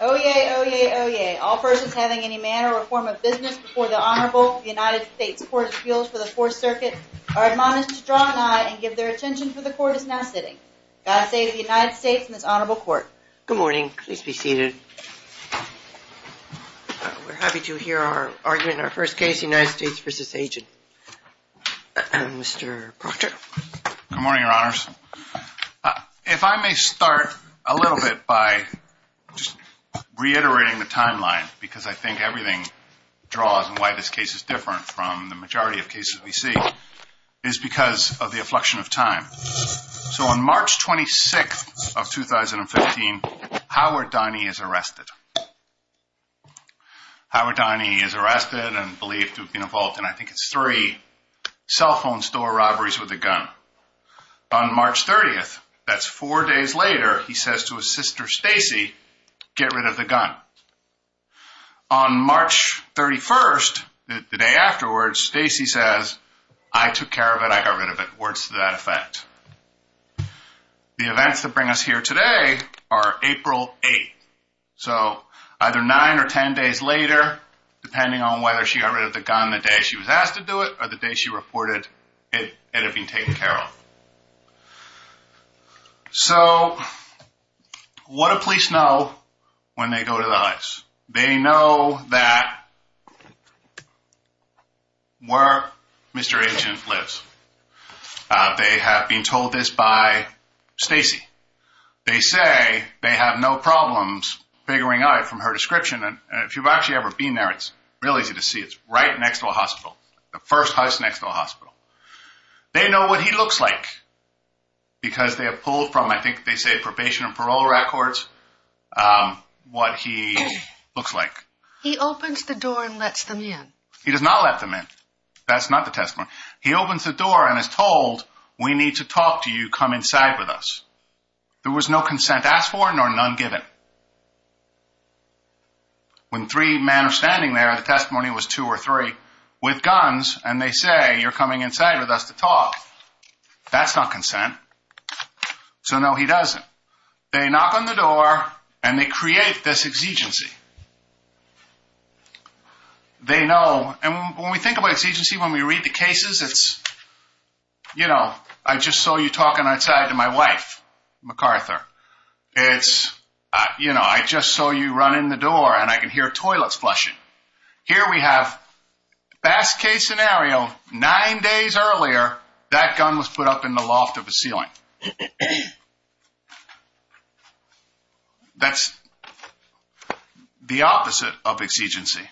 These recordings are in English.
Oyez, oyez, oyez. All persons having any manner or form of business before the Honorable United States Court of Appeals for the Fourth Circuit are admonished to draw an eye and give their attention for the Court is now sitting. God save the United States and this Honorable Court. Good morning. Please be seated. We're happy to hear our argument in our first case, United States v. Agent. Mr. Proctor. Good morning, Your Honors. If I may start a little bit by just reiterating the timeline because I think everything draws and why this case is different from the majority of cases we see is because of the affliction of time. So on March 26th of 2015, Howard Donnie is arrested. Howard Donnie is arrested and believed to have been involved in I think it's three cell phone store robberies with a gun. On March 30th, that's four days later, he says to his sister Stacey, get rid of the gun. On March 31st, the day afterwards, Stacey says, I took care of it. I got rid of it. Words to that effect. The events that bring us here today are April 8th. So either nine or ten days later, depending on whether she got rid of the gun the day she was asked to do it or the day she reported it had been taken care of. So what do police know when they go to the heist? They know that where Mr. Agent lives. They have been told this by Stacey. They say they have no problems figuring out from her description and if you've actually ever been there, it's real easy to see. It's right next to a hospital. The first house next to a hospital. They know what he looks like because they have pulled from I think they say probation and parole records what he looks like. He opens the door and lets them in. He does not let them in. That's not the testimony. He opens the door and is told we need to talk to you. Come inside with us. There was no consent asked for nor none given. When three men are standing there, the testimony was two or three with guns and they say you're coming inside with us to talk. That's not consent. So no, he doesn't. They knock on the door and they create this exigency. They know and when we think about exigency, when we read the cases, it's, you know, I just saw you talking outside to my wife, MacArthur. It's, you know, I just saw you run in the door and I can hear toilets flushing. Here we have best case scenario, nine days earlier, that gun was put up in the loft of the ceiling. That's the opposite of exigency.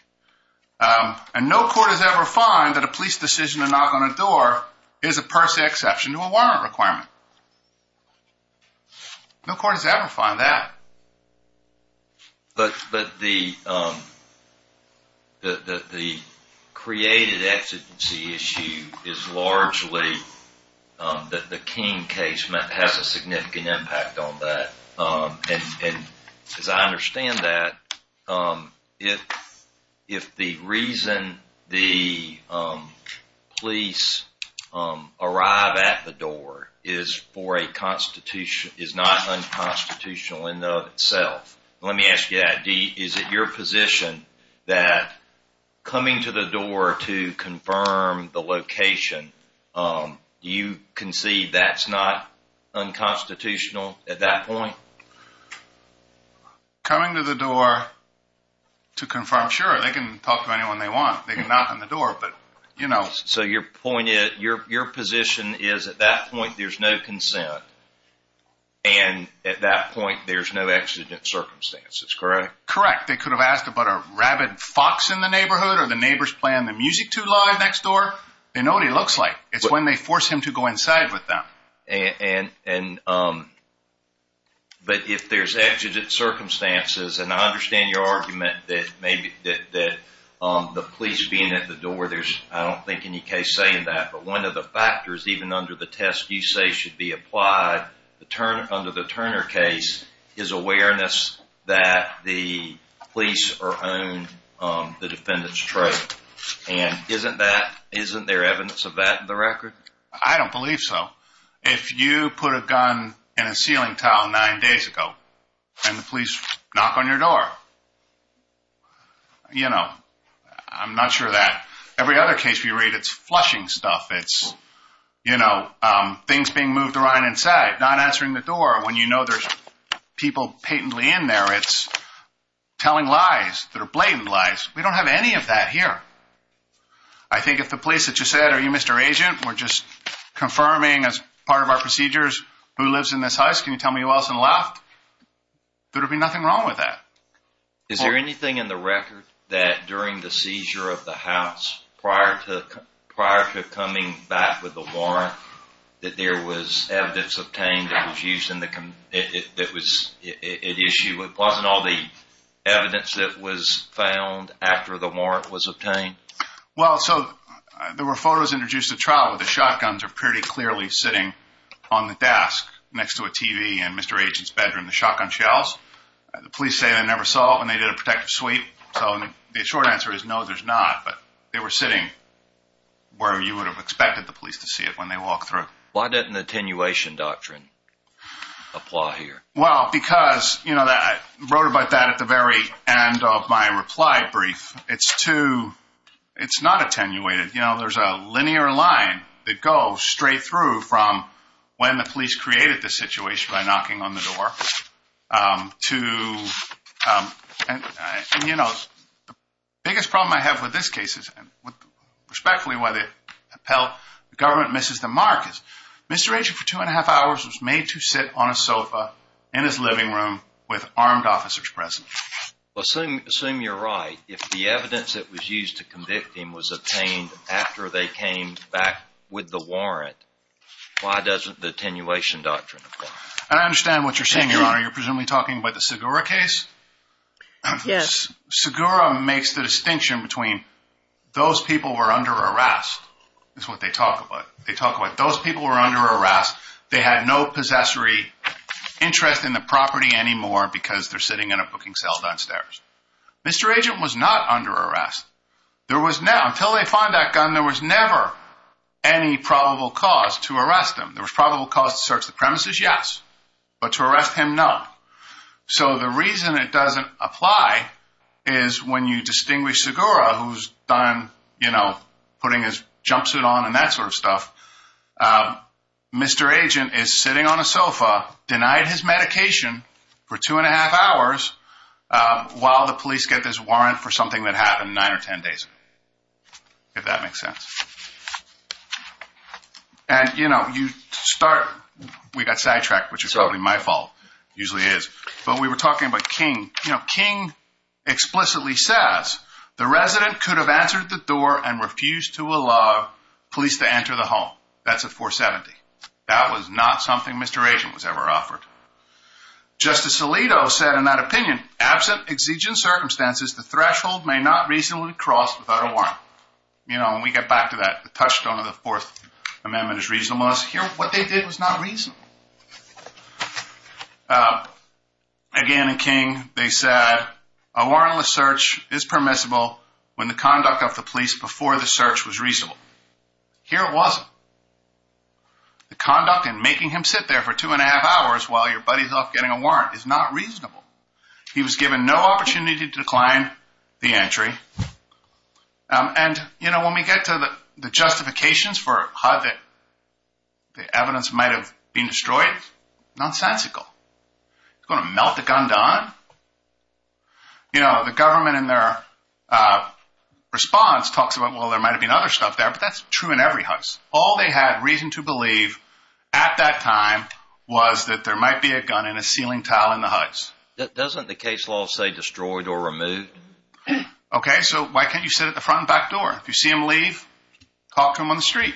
And no court has ever found that a police decision to knock on a door is a per se exception to a warrant requirement. No court has ever found that. But the created exigency issue is largely that the King case has a significant impact on that. As I understand that, if the reason the police arrive at the door is for a constitution, is not unconstitutional in and of itself. Let me ask you, is it your position that coming to the door to confirm the location, you can see that's not unconstitutional at that point? Coming to the door to confirm, sure, they can talk to anyone they want. They can knock on the door, but, you know. So your point is, your position is at that point there's no consent and at that point there's no exigent circumstances, correct? Correct. They could have asked about a rabid fox in the neighborhood or the neighbors playing the music too loud next door. They know what he looks like. It's when they force him to go inside with them. But if there's exigent circumstances, and I understand your argument that the police being at the door, I don't think there's any case saying that. But one of the factors, even under the test you say should be applied under the Turner case, is awareness that the police are on the defendant's trail. And isn't there evidence of that in the record? I don't believe so. If you put a gun in a ceiling tile nine days ago, and the police knock on your door, you know, I'm not sure of that. Every other case we read, it's flushing stuff. It's, you know, things being moved around inside. Not answering the door when you know there's people patently in there, it's telling lies that are blatant lies. We don't have any of that here. I think if the police had just said, are you Mr. Agent? We're just confirming as part of our procedures who lives in this house. Can you tell me who else is left? There would be nothing wrong with that. Is there anything in the record that during the seizure of the house, prior to coming back with the warrant, that there was evidence obtained that was used in the issue? It wasn't all the evidence that was found after the warrant was obtained? Well, so there were photos introduced at trial where the shotguns are pretty clearly sitting on the desk next to a TV in Mr. Agent's bedroom. The shotgun shells, the police say they never saw it when they did a protective sweep. So the short answer is no, there's not, but they were sitting where you would have expected the police to see it when they walked through. Why didn't the attenuation doctrine apply here? Well, because, you know, I wrote about that at the very end of my reply brief. It's too, it's not attenuated. You know, there's a linear line that goes straight through from when the police created the situation by knocking on the door, to, you know, the biggest problem I have with this case is, and respectfully why the government misses the mark, is Mr. Agent for two and a half hours was made to sit on a sofa in his living room with armed officers present. Well, assume you're right. If the evidence that was used to convict him was obtained after they came back with the warrant, why doesn't the attenuation doctrine apply? And I understand what you're saying, Your Honor. You're presumably talking about the Segura case? Yes. Segura makes the distinction between those people were under arrest, is what they talk about. They talk about those people were under arrest. They had no possessory interest in the property anymore because they're sitting in a booking cell downstairs. Mr. Agent was not under arrest. There was no, until they found that gun, there was never any probable cause to arrest him. There was probable cause to search the premises, yes, but to arrest him, no. So the reason it doesn't apply is when you distinguish Segura, who's done, you know, putting his jumpsuit on and that sort of stuff, Mr. Agent is sitting on a sofa, denied his medication for two and a half hours, while the police get this warrant for something that happened nine or ten days ago, if that makes sense. And, you know, you start, we got sidetracked, which is probably my fault, usually is, but we were talking about King. You know, King explicitly says the resident could have answered the door and refused to allow police to enter the home. That's a 470. That was not something Mr. Agent was ever offered. Justice Alito said in that opinion, absent exigent circumstances, the threshold may not reasonably cross without a warrant. You know, when we get back to that, the touchstone of the Fourth Amendment is reasonableness. Here, what they did was not reasonable. Again, in King, they said a warrantless search is permissible when the conduct of the police before the search was reasonable. Here it wasn't. The conduct in making him sit there for two and a half hours while your buddy's off getting a warrant is not reasonable. He was given no opportunity to decline the entry. And, you know, when we get to the justifications for a HUD that the evidence might have been destroyed, nonsensical. Going to melt the gun down? You know, the government in their response talks about, well, there might have been other stuff there, but that's true in every HUD. All they had reason to believe at that time was that there might be a gun in a ceiling tile in the HUDs. Doesn't the case law say destroyed or removed? Okay, so why can't you sit at the front and back door? If you see him leave, talk to him on the street.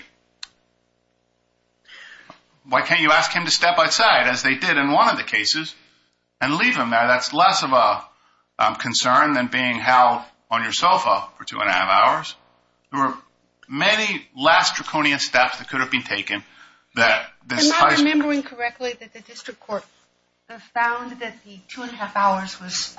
Why can't you ask him to step outside, as they did in one of the cases, and leave him there? That's less of a concern than being held on your sofa for two and a half hours. There were many last draconian steps that could have been taken. I'm not remembering correctly that the district court found that the two and a half hours was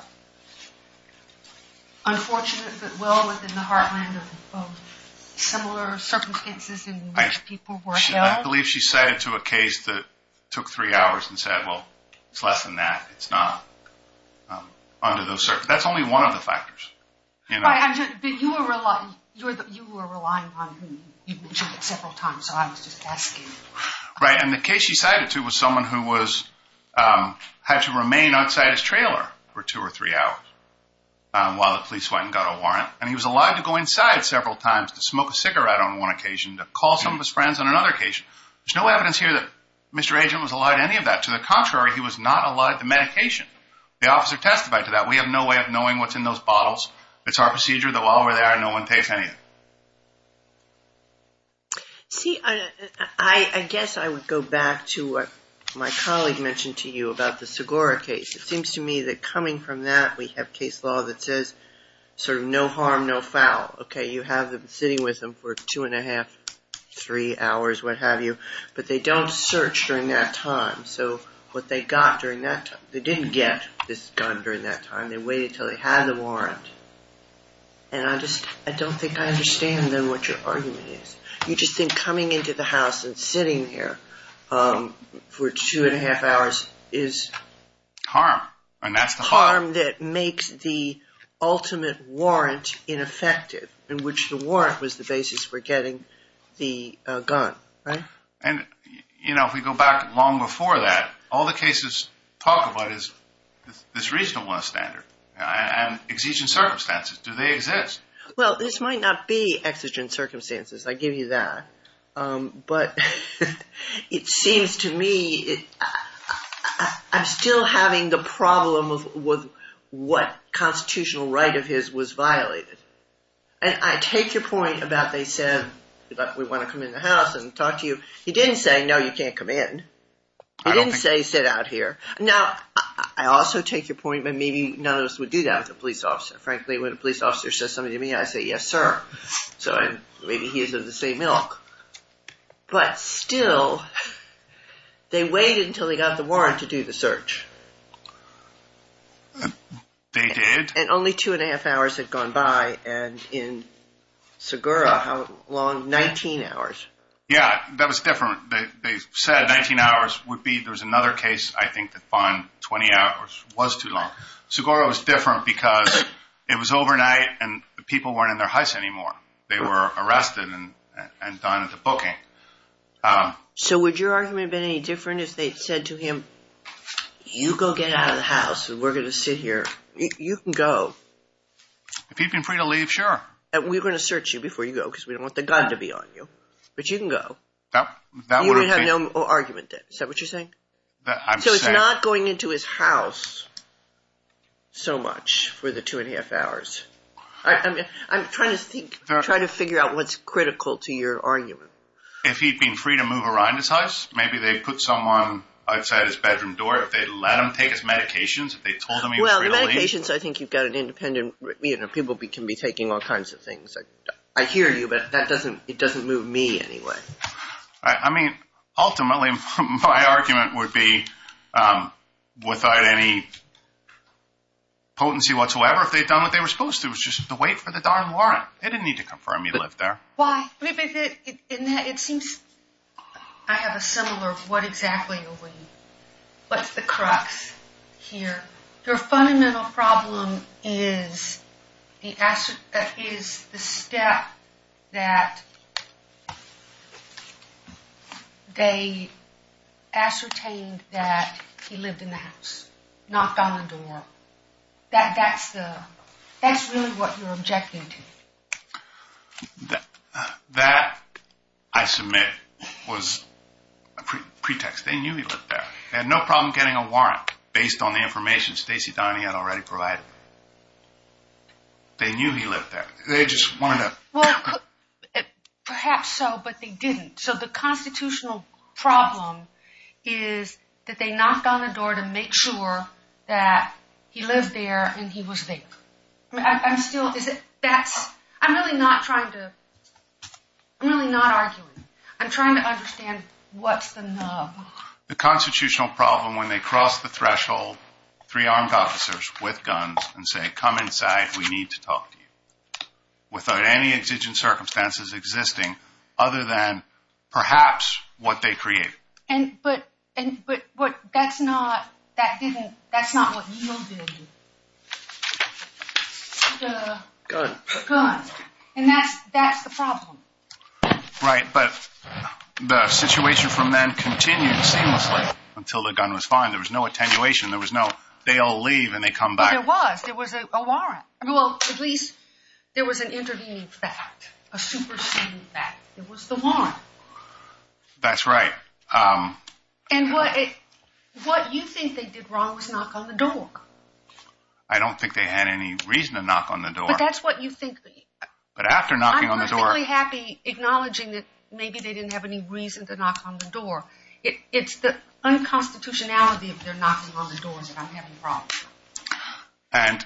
unfortunate, but well within the heartland of similar circumstances in which people were held. I believe she set it to a case that took three hours and said, well, it's less than that. It's not under those circumstances. That's only one of the factors. You were relying on him. You mentioned it several times, so I was just asking. Right, and the case she cited, too, was someone who had to remain outside his trailer for two or three hours while the police went and got a warrant. And he was allowed to go inside several times to smoke a cigarette on one occasion, to call some of his friends on another occasion. There's no evidence here that Mr. Agent was allowed any of that. To the contrary, he was not allowed the medication. The officer testified to that. We have no way of knowing what's in those bottles. It's our procedure. They're all over there. No one pays anything. See, I guess I would go back to what my colleague mentioned to you about the Segura case. It seems to me that coming from that, we have case law that says sort of no harm, no foul. Okay, you have them sitting with them for two and a half, three hours, what have you, but they don't search during that time. So what they got during that time, they didn't get this gun during that time. They waited until they had the warrant. And I don't think I understand, then, what your argument is. You just think coming into the house and sitting here for two and a half hours is harm. Harm that makes the ultimate warrant ineffective, in which the warrant was the basis for getting the gun, right? And, you know, if we go back long before that, all the cases talk about is this regional one standard and exigent circumstances. Do they exist? Well, this might not be exigent circumstances. I give you that. But it seems to me I'm still having the problem with what constitutional right of his was violated. And I take your point about they said, look, we want to come in the house and talk to you. He didn't say, no, you can't come in. He didn't say sit out here. Now, I also take your point, but maybe none of us would do that with a police officer. Frankly, when a police officer says something to me, I say, yes, sir. So maybe he is of the same ilk. But still, they waited until they got the warrant to do the search. They did? And only two and a half hours had gone by. And in Segura, how long? 19 hours. Yeah, that was different. They said 19 hours would be. There was another case, I think, that found 20 hours was too long. Segura was different because it was overnight and the people weren't in their house anymore. They were arrested and done with the booking. So would your argument have been any different if they had said to him, you go get out of the house and we're going to sit here. You can go. If he'd been free to leave, sure. We're going to search you before you go because we don't want the gun to be on you. But you can go. You would have no argument then. Is that what you're saying? I'm saying. So it's not going into his house so much for the two and a half hours. I'm trying to figure out what's critical to your argument. If he'd been free to move around his house, maybe they'd put someone outside his bedroom door. If they'd let him take his medications, if they told him he was free to leave. Well, the medications, I think you've got an independent. People can be taking all kinds of things. I hear you, but it doesn't move me anyway. I mean, ultimately, my argument would be without any potency whatsoever if they'd done what they were supposed to. It was just to wait for the darn warrant. They didn't need to confirm he lived there. Why? It seems I have a similar, what exactly? What's the crux here? Your fundamental problem is the step that they ascertained that he lived in the house. Knocked on the door. That's really what you're objecting to. That, I submit, was a pretext. They knew he lived there. They had no problem getting a warrant based on the information Stacey Donnie had already provided. They knew he lived there. They just wanted to. Perhaps so, but they didn't. So the constitutional problem is that they knocked on the door to make sure that he lived there and he was there. I'm still, is it, that's, I'm really not trying to, I'm really not arguing. I'm trying to understand what's the nub. The constitutional problem when they cross the threshold, three armed officers with guns, and say, come inside, we need to talk to you. Without any exigent circumstances existing other than perhaps what they created. But that's not, that didn't, that's not what yielded the gun. And that's the problem. Right, but the situation from then continued seamlessly until the gun was found. There was no attenuation. There was no, they all leave and they come back. There was. There was a warrant. Well, at least there was an intervening fact, a superseding fact. It was the warrant. That's right. And what you think they did wrong was knock on the door. I don't think they had any reason to knock on the door. But that's what you think. But after knocking on the door. I'm perfectly happy acknowledging that maybe they didn't have any reason to knock on the door. It's the unconstitutionality of their knocking on the doors that I'm having problems with. And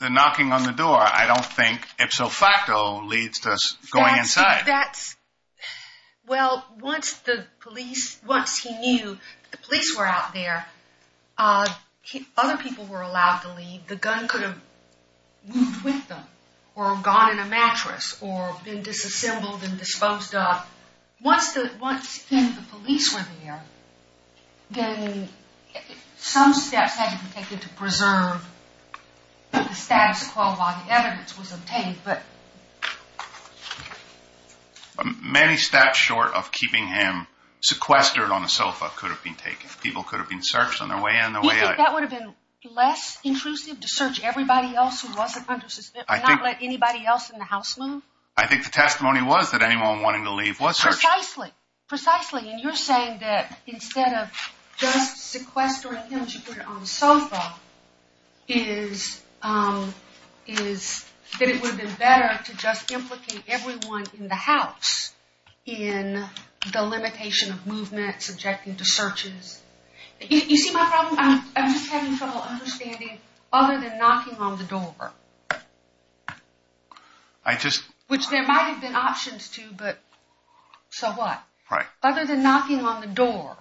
the knocking on the door, I don't think ipso facto leads to us going inside. Well, once the police, once he knew the police were out there, other people were allowed to leave. The gun could have moved with them or gone in a mattress or been disassembled and disposed of. Once the police were there, then some steps had to be taken to preserve the status quo while the evidence was obtained. Many steps short of keeping him sequestered on a sofa could have been taken. People could have been searched on their way in. You think that would have been less intrusive to search everybody else who wasn't under suspicion? Not let anybody else in the house move? I think the testimony was that anyone wanting to leave was searched. Precisely. And you're saying that instead of just sequestering him to put him on the sofa, that it would have been better to just implicate everyone in the house in the limitation of movement, subjecting to searches. You see my problem? I'm just having trouble understanding other than knocking on the door. Which there might have been options to, but so what? Right. Other than knocking on the door.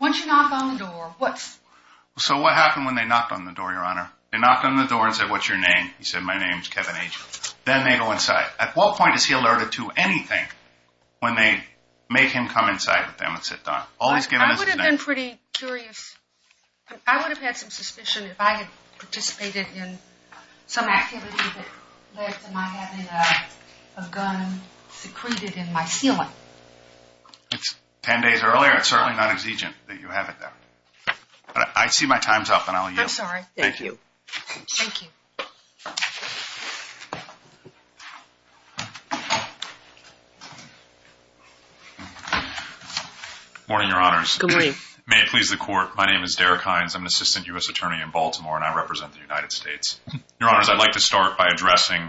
Once you knock on the door, what's... So what happened when they knocked on the door, Your Honor? They knocked on the door and said, what's your name? He said, my name's Kevin H. Then they go inside. At what point is he alerted to anything when they make him come inside with them and sit down? I would have been pretty curious. I would have had some suspicion if I had participated in some activity that led to my having a gun secreted in my ceiling. It's ten days earlier, it's certainly not exigent that you have it there. I see my time's up and I'll yield. I'm sorry. Thank you. Thank you. Morning, Your Honors. Good morning. May it please the Court, my name is Derek Hines. I'm an assistant U.S. attorney in Baltimore and I represent the United States. Your Honors, I'd like to start by addressing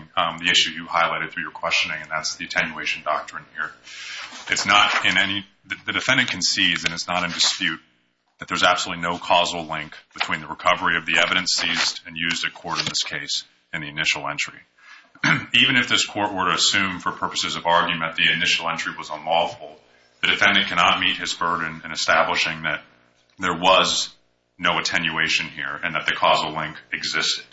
the issue you highlighted through your questioning, and that's the attenuation doctrine here. It's not in any... The defendant can seize and it's not in dispute that there's absolutely no causal link between the recovery of the evidence seized and used at court in this case and the initial entry. Even if this court were to assume for purposes of argument the initial entry was unlawful, the defendant cannot meet his burden in establishing that there was no attenuation here and that the causal link existed.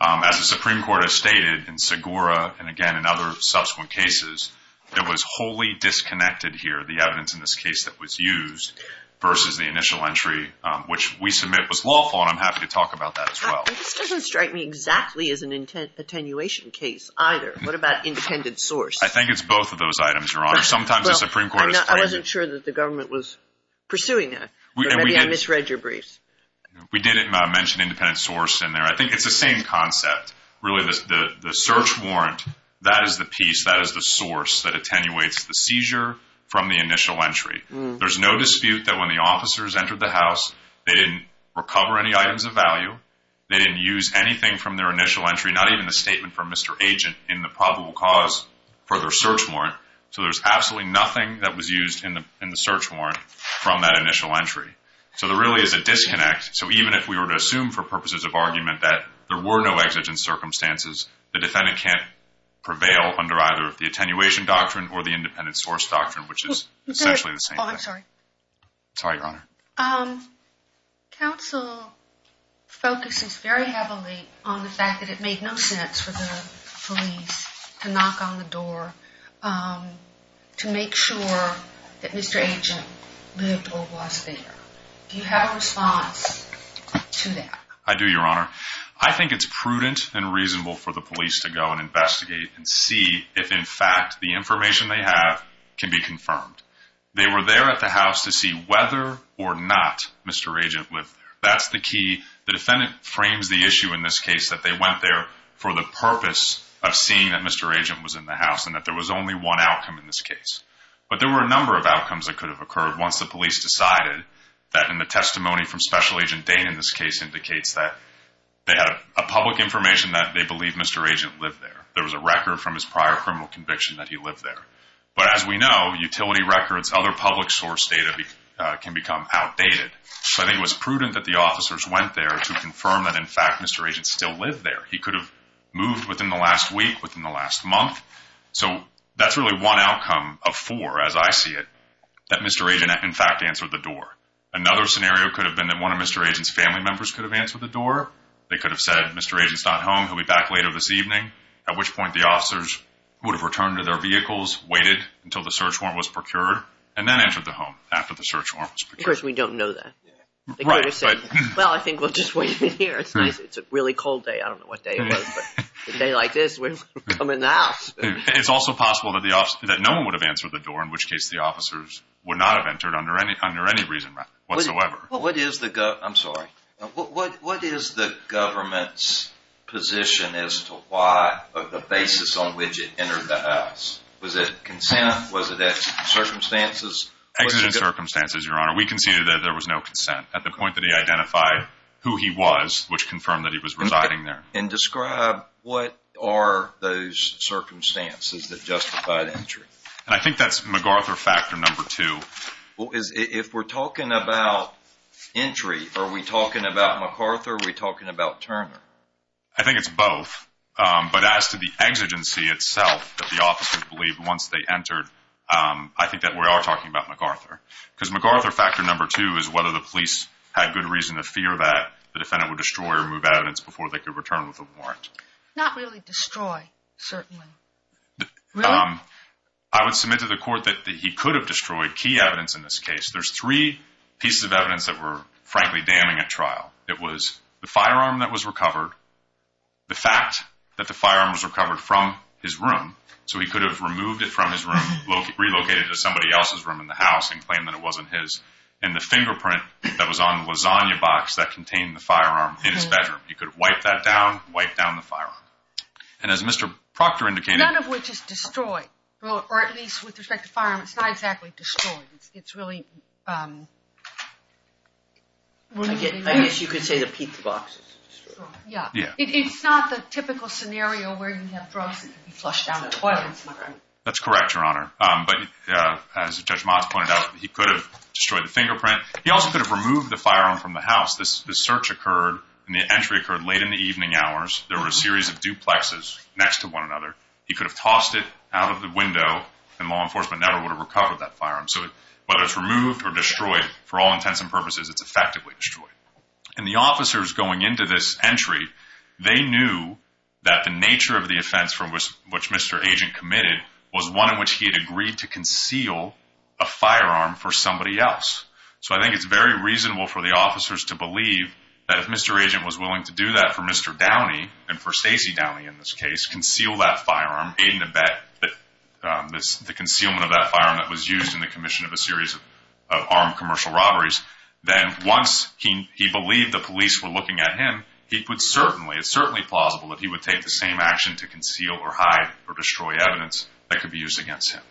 As the Supreme Court has stated in Segura and, again, in other subsequent cases, there was wholly disconnected here the evidence in this case that was used versus the initial entry, which we submit was lawful and I'm happy to talk about that as well. This doesn't strike me exactly as an attenuation case either. What about independent source? I think it's both of those items, Your Honors. Sometimes the Supreme Court is telling you... I wasn't sure that the government was pursuing that. Maybe I misread your briefs. We didn't mention independent source in there. I think it's the same concept. Really, the search warrant, that is the piece, that is the source that attenuates the seizure from the initial entry. There's no dispute that when the officers entered the house, they didn't recover any items of value. They didn't use anything from their initial entry, not even the statement from Mr. Agent in the probable cause for their search warrant. So there's absolutely nothing that was used in the search warrant from that initial entry. So there really is a disconnect. So even if we were to assume for purposes of argument that there were no exigent circumstances, the defendant can't prevail under either the attenuation doctrine or the independent source doctrine, which is essentially the same thing. I'm sorry. Sorry, Your Honor. Counsel focuses very heavily on the fact that it made no sense for the police to knock on the door to make sure that Mr. Agent lived or was there. Do you have a response to that? I do, Your Honor. I think it's prudent and reasonable for the police to go and investigate and see if, in fact, the information they have can be confirmed. They were there at the house to see whether or not Mr. Agent lived there. That's the key. The defendant frames the issue in this case that they went there for the purpose of seeing that Mr. Agent was in the house and that there was only one outcome in this case. But there were a number of outcomes that could have occurred once the police decided that in the testimony from Special Agent Dane in this case indicates that they had a public information that they believe Mr. Agent lived there. There was a record from his prior criminal conviction that he lived there. But as we know, utility records, other public source data can become outdated. So I think it was prudent that the officers went there to confirm that, in fact, Mr. Agent still lived there. He could have moved within the last week, within the last month. So that's really one outcome of four, as I see it, that Mr. Agent, in fact, answered the door. Another scenario could have been that one of Mr. Agent's family members could have answered the door. They could have said, Mr. Agent's not home. He'll be back later this evening. At which point the officers would have returned to their vehicles, waited until the search warrant was procured, and then entered the home after the search warrant was procured. Of course, we don't know that. They could have said, well, I think we'll just wait him in here. It's a really cold day. I don't know what day it was, but a day like this, we'll come in the house. It's also possible that no one would have answered the door, in which case the officers would not have entered under any reason whatsoever. I'm sorry. What is the government's position as to the basis on which it entered the house? Was it consent? Was it exigent circumstances? Exigent circumstances, Your Honor. We conceded that there was no consent at the point that he identified who he was, which confirmed that he was residing there. And describe what are those circumstances that justified entry? I think that's MacArthur factor number two. If we're talking about entry, are we talking about MacArthur or are we talking about Turner? I think it's both. But as to the exigency itself that the officers believed once they entered, I think that we are talking about MacArthur. Because MacArthur factor number two is whether the police had good reason to fear that the defendant would destroy or remove evidence before they could return with a warrant. Not really destroy, certainly. Really? I would submit to the court that he could have destroyed key evidence in this case. There's three pieces of evidence that were frankly damning at trial. It was the firearm that was recovered, the fact that the firearm was recovered from his room, so he could have removed it from his room, relocated it to somebody else's room in the house and claimed that it wasn't his, and the fingerprint that was on the lasagna box that contained the firearm in his bedroom. He could have wiped that down, wiped down the firearm. And as Mr. Proctor indicated— Destroyed. Or at least with respect to the firearm, it's not exactly destroyed. It's really— I guess you could say the pizza box is destroyed. Yeah. It's not the typical scenario where you have drugs that can be flushed down the toilet. That's correct, Your Honor. But as Judge Motz pointed out, he could have destroyed the fingerprint. He also could have removed the firearm from the house. The search occurred and the entry occurred late in the evening hours. There were a series of duplexes next to one another. He could have tossed it out of the window, and law enforcement never would have recovered that firearm. So whether it's removed or destroyed, for all intents and purposes, it's effectively destroyed. And the officers going into this entry, they knew that the nature of the offense from which Mr. Agent committed was one in which he had agreed to conceal a firearm for somebody else. So I think it's very reasonable for the officers to believe that if Mr. Agent was willing to do that for Mr. Downey, and for Stacey Downey in this case, conceal that firearm, aid and abet the concealment of that firearm that was used in the commission of a series of armed commercial robberies, then once he believed the police were looking at him, it's certainly plausible that he would take the same action to conceal or hide or destroy evidence that could be used against him.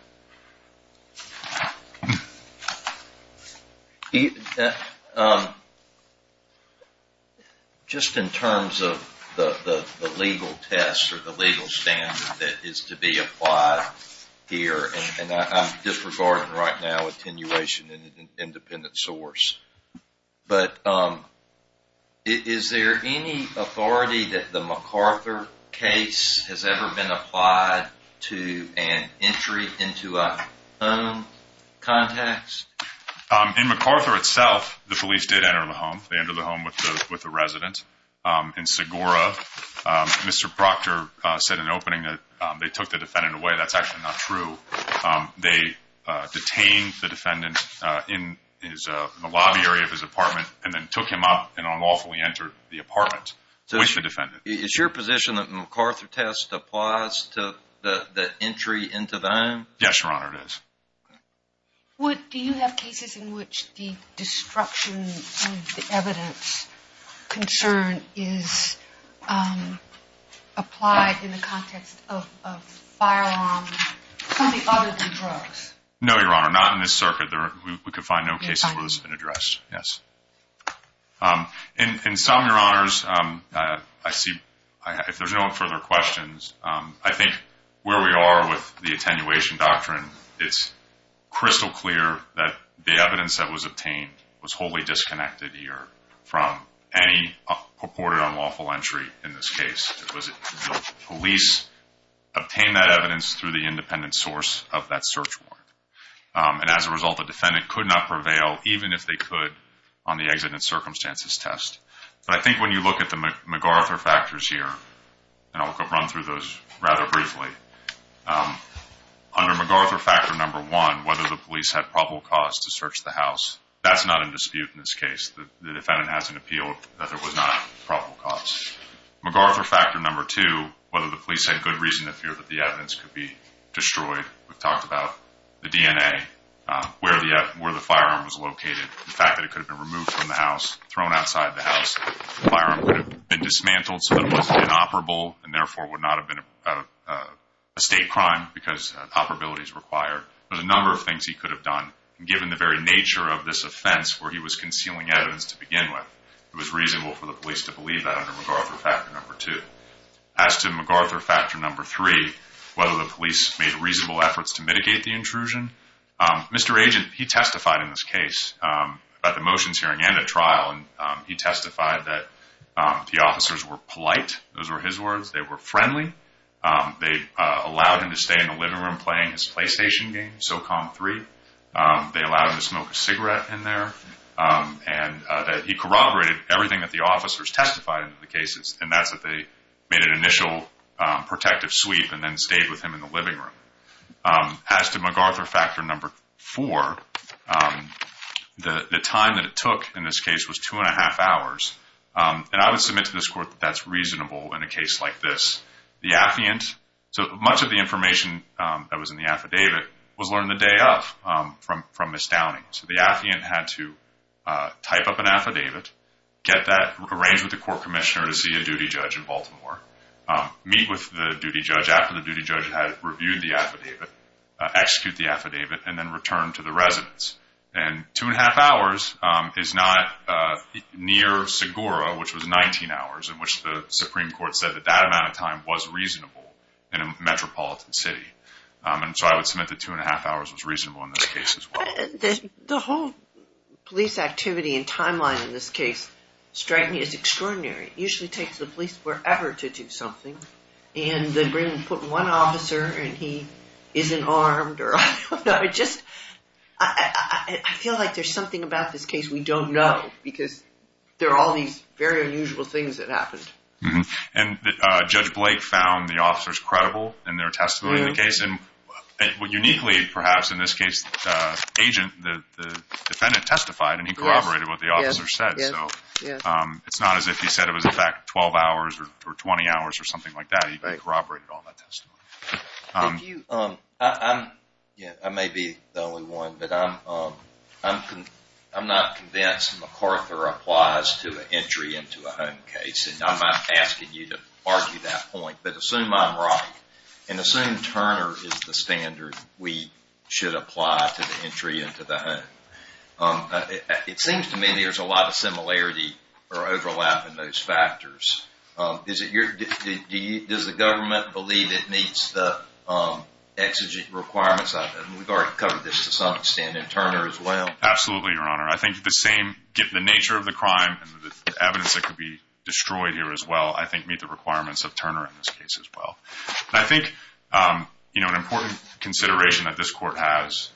Just in terms of the legal test or the legal standard that is to be applied here, and I'm disregarding right now attenuation in an independent source, but is there any authority that the MacArthur case has ever been applied to an entry into a home context? In MacArthur itself, the police did enter the home. They entered the home with the resident. In Segura, Mr. Proctor said in an opening that they took the defendant away. That's actually not true. They detained the defendant in the lobby area of his apartment and then took him up and unlawfully entered the apartment with the defendant. Is your position that the MacArthur test applies to the entry into the home? Yes, Your Honor, it does. Do you have cases in which the destruction of the evidence concern is applied in the context of firearms, something other than drugs? No, Your Honor, not in this circuit. We could find no cases where this has been addressed, yes. In some, Your Honors, if there's no further questions, I think where we are with the attenuation doctrine, it's crystal clear that the evidence that was obtained was wholly disconnected here from any purported unlawful entry in this case. The police obtained that evidence through the independent source of that search warrant, and as a result, the defendant could not prevail, even if they could, on the exit in circumstances test. But I think when you look at the MacArthur factors here, and I'll run through those rather briefly, under MacArthur factor number one, whether the police had probable cause to search the house, that's not in dispute in this case. The defendant has an appeal that there was not probable cause. MacArthur factor number two, whether the police had good reason to fear that the evidence could be destroyed. We've talked about the DNA, where the firearm was located, the fact that it could have been removed from the house, thrown outside the house, the firearm could have been dismantled so that it was inoperable, and therefore would not have been a state crime because operability is required. There's a number of things he could have done, and given the very nature of this offense where he was concealing evidence to begin with, it was reasonable for the police to believe that under MacArthur factor number two. As to MacArthur factor number three, whether the police made reasonable efforts to mitigate the intrusion, Mr. Agent, he testified in this case about the motions hearing and at trial, and he testified that the officers were polite, those were his words, they were friendly, they allowed him to stay in the living room playing his PlayStation game, SOCOM 3, they allowed him to smoke a cigarette in there, and that he corroborated everything that the officers testified in the cases, and that's that they made an initial protective sweep and then stayed with him in the living room. As to MacArthur factor number four, the time that it took in this case was two and a half hours, and I would submit to this court that that's reasonable in a case like this. The affiant, so much of the information that was in the affidavit was learned the day of from Ms. Downing, so the affiant had to type up an affidavit, get that arranged with the court commissioner to see a duty judge in Baltimore, meet with the duty judge after the duty judge had reviewed the affidavit, execute the affidavit, and then return to the residence, and two and a half hours is not near Segura, which was 19 hours, in which the Supreme Court said that that amount of time was reasonable in a metropolitan city, and so I would submit that two and a half hours was reasonable in this case as well. The whole police activity and timeline in this case, strike me as extraordinary, it usually takes the police forever to do something, and then bring and put one officer and he isn't armed, or I don't know, it just, I feel like there's something about this case we don't know, because there are all these very unusual things that happened. And Judge Blake found the officers credible in their testimony in the case, and uniquely perhaps in this case, the agent, the defendant testified, and he corroborated what the officer said, so it's not as if he said it was in fact 12 hours or 20 hours or something like that, he corroborated all that testimony. If you, I may be the only one, but I'm not convinced MacArthur applies to an entry into a home case, and I'm not asking you to argue that point, but assume I'm right, and assume Turner is the standard we should apply to the entry into the home. It seems to me there's a lot of similarity or overlap in those factors. Does the government believe it meets the exigent requirements? We've already covered this to some extent in Turner as well. Absolutely, Your Honor. I think the same, the nature of the crime, and the evidence that could be destroyed here as well, I think meet the requirements of Turner in this case as well. I think, you know, an important consideration that this court has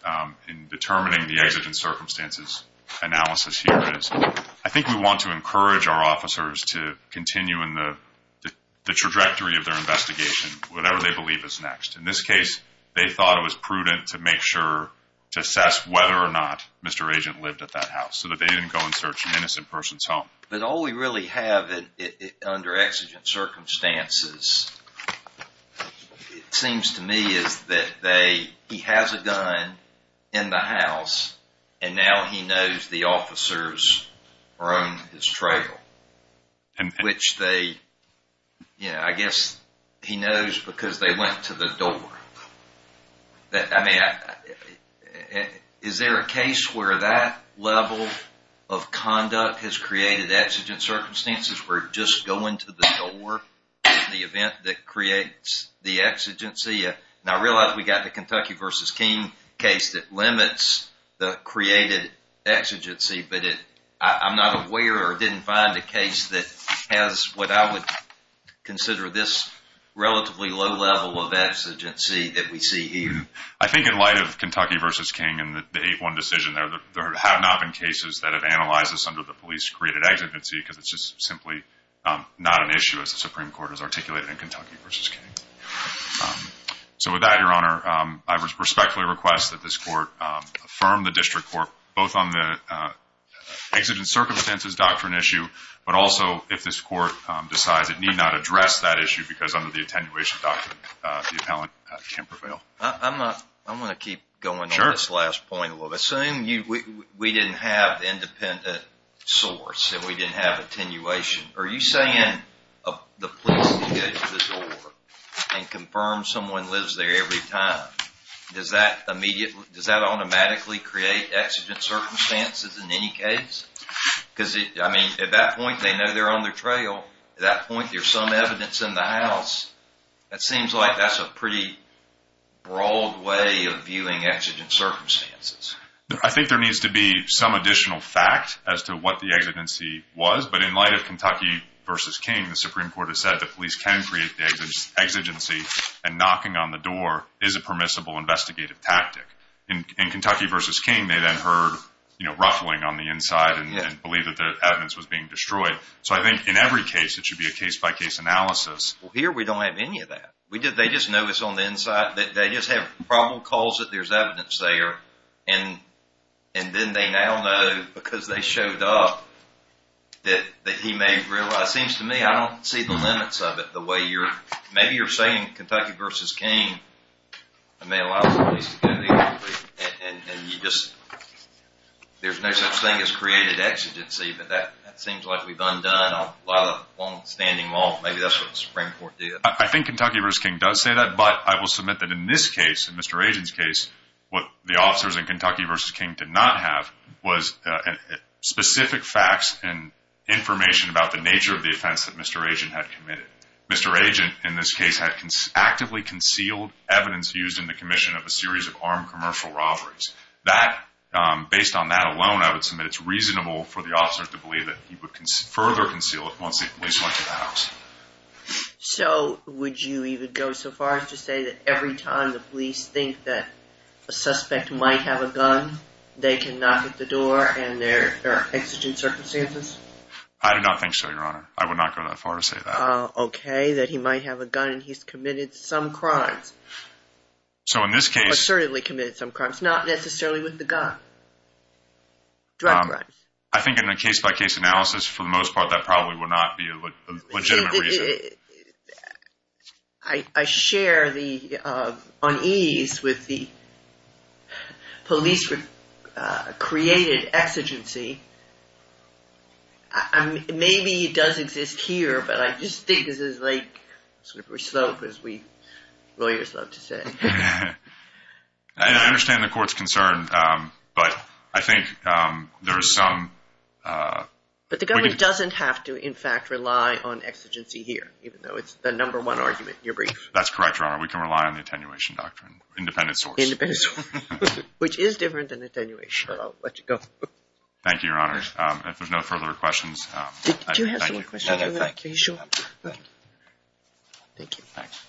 in determining the exigent circumstances analysis here is, I think we want to encourage our officers to continue in the trajectory of their investigation, whatever they believe is next. In this case, they thought it was prudent to make sure, to assess whether or not Mr. Agent lived at that house, so that they didn't go and search an innocent person's home. But all we really have under exigent circumstances, it seems to me, is that they, he has a gun in the house, and now he knows the officers are on his trail. Which they, you know, I guess he knows because they went to the door. I mean, is there a case where that level of conduct has created exigent circumstances where you just go into the door in the event that creates the exigency? And I realize we got the Kentucky v. King case that limits the created exigency, but I'm not aware or didn't find a case that has what I would consider this relatively low level of exigency that we see here. I think in light of Kentucky v. King and the 8-1 decision there, there have not been cases that have analyzed this under the police created exigency because it's just simply not an issue as the Supreme Court has articulated in Kentucky v. King. So with that, Your Honor, I respectfully request that this Court affirm the District Court both on the exigent circumstances doctrine issue, but also if this Court decides it need not address that issue because under the attenuation doctrine the appellant can't prevail. I'm going to keep going on this last point a little bit. Assume we didn't have independent source and we didn't have attenuation. Are you saying the police can go to the door and confirm someone lives there every time? Does that automatically create exigent circumstances in any case? Because at that point they know they're on their trail. At that point there's some evidence in the house. It seems like that's a pretty broad way of viewing exigent circumstances. I think there needs to be some additional fact as to what the exigency was. But in light of Kentucky v. King, the Supreme Court has said the police can create the exigency and knocking on the door is a permissible investigative tactic. In Kentucky v. King they then heard ruffling on the inside and believed that the evidence was being destroyed. So I think in every case it should be a case-by-case analysis. Well, here we don't have any of that. They just know it's on the inside. They just have probable cause that there's evidence there. And then they now know because they showed up that he may realize. It seems to me I don't see the limits of it. Maybe you're saying Kentucky v. King. I mean a lot of ways to go there. There's no such thing as created exigency. But that seems like we've undone a lot of long-standing law. Maybe that's what the Supreme Court did. I think Kentucky v. King does say that, but I will submit that in this case, in Mr. Agent's case, what the officers in Kentucky v. King did not have was specific facts and information about the nature of the offense that Mr. Agent had committed. Mr. Agent, in this case, had actively concealed evidence used in the commission of a series of armed commercial robberies. Based on that alone, I would submit it's reasonable for the officers to believe that he would further conceal it once the police went to the house. So would you even go so far as to say that every time the police think that a suspect might have a gun, they can knock at the door and there are exigent circumstances? I do not think so, Your Honor. I would not go that far to say that. Okay, that he might have a gun and he's committed some crimes. Assertively committed some crimes. Not necessarily with the gun. Drug crimes. I think in a case-by-case analysis, for the most part, that probably would not be a legitimate reason. I share the unease with the police-created exigency. Maybe it does exist here, but I just think this is like a slippery slope, as we lawyers love to say. I understand the court's concern, but I think there is some... But the government doesn't have to, in fact, rely on exigency here, even though it's the number one argument in your brief. That's correct, Your Honor. We can rely on the attenuation doctrine. Independent source. Independent source. Which is different than attenuation, but I'll let you go. Thank you, Your Honor. If there's no further questions... Do you have some more questions? No, thank you. Are you sure? Thank you. Thanks.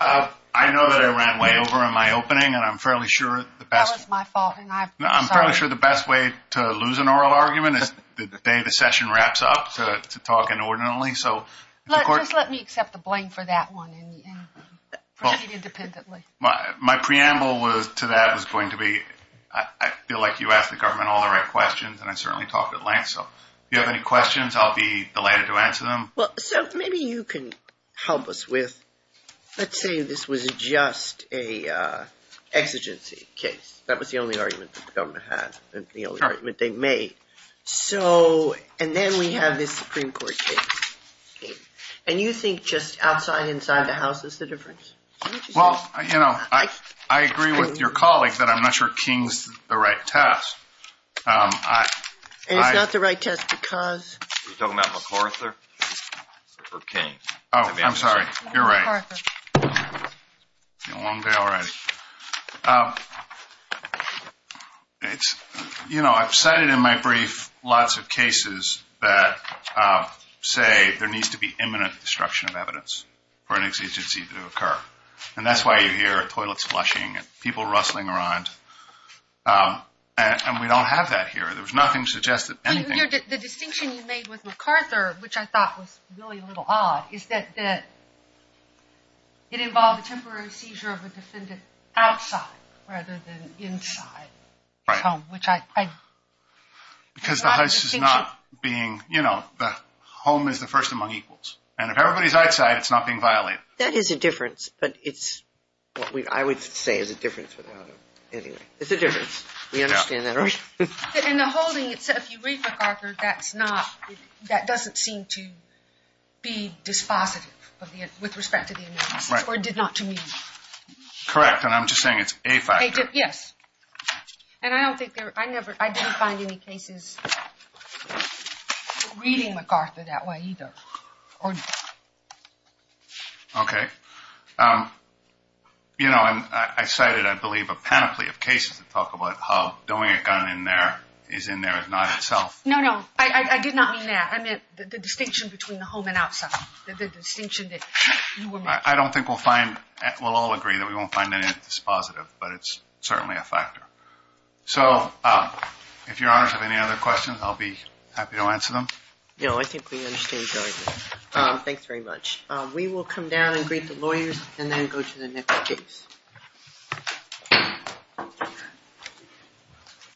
I know that I ran way over in my opening, and I'm fairly sure... That was my fault, and I'm sorry. I'm fairly sure the best way to lose an oral argument is the day the session wraps up, to talk inordinately, so... Just let me accept the blame for that one, and proceed independently. My preamble to that was going to be, I feel like you asked the government all the right questions, and I certainly talked at length, so... If you have any questions, I'll be delighted to answer them. Well, so maybe you can help us with... Let's say this was just an exigency case. That was the only argument that the government had, and the only argument they made. So... And then we have this Supreme Court case. And you think just outside, inside the House is the difference? Well, you know, I agree with your colleagues that I'm not sure King's the right test. And it's not the right test because... Are you talking about MacArthur or King? Oh, I'm sorry. You're right. It's been a long day already. You know, I've cited in my brief lots of cases that say there needs to be imminent destruction of evidence for an exigency to occur. And that's why you hear toilets flushing and people rustling around. And we don't have that here. There was nothing to suggest that anything... The distinction you made with MacArthur, which I thought was really a little odd, is that it involved a temporary seizure of a defendant outside rather than inside the home. Right. Which I... Because the House is not being... You know, the home is the first among equals. And if everybody's outside, it's not being violated. That is a difference. But it's what I would say is a difference. Anyway, it's a difference. We understand that, right? In the holding itself, you read MacArthur. That's not... That doesn't seem to be dispositive with respect to the innocence or did not to me. Correct. And I'm just saying it's a factor. Yes. And I don't think there... I never... I didn't find any cases reading MacArthur that way either. Okay. You know, I cited, I believe, a panoply of cases that talk about how doing a gun in there is in there, is not itself... No, no. I did not mean that. I meant the distinction between the home and outside. The distinction that you were making. I don't think we'll find... We'll all agree that we won't find anything that's dispositive. But it's certainly a factor. So, if Your Honors have any other questions, I'll be happy to answer them. No, I think we understand very well. Thanks very much. We will come down and greet the lawyers and then go to the next case.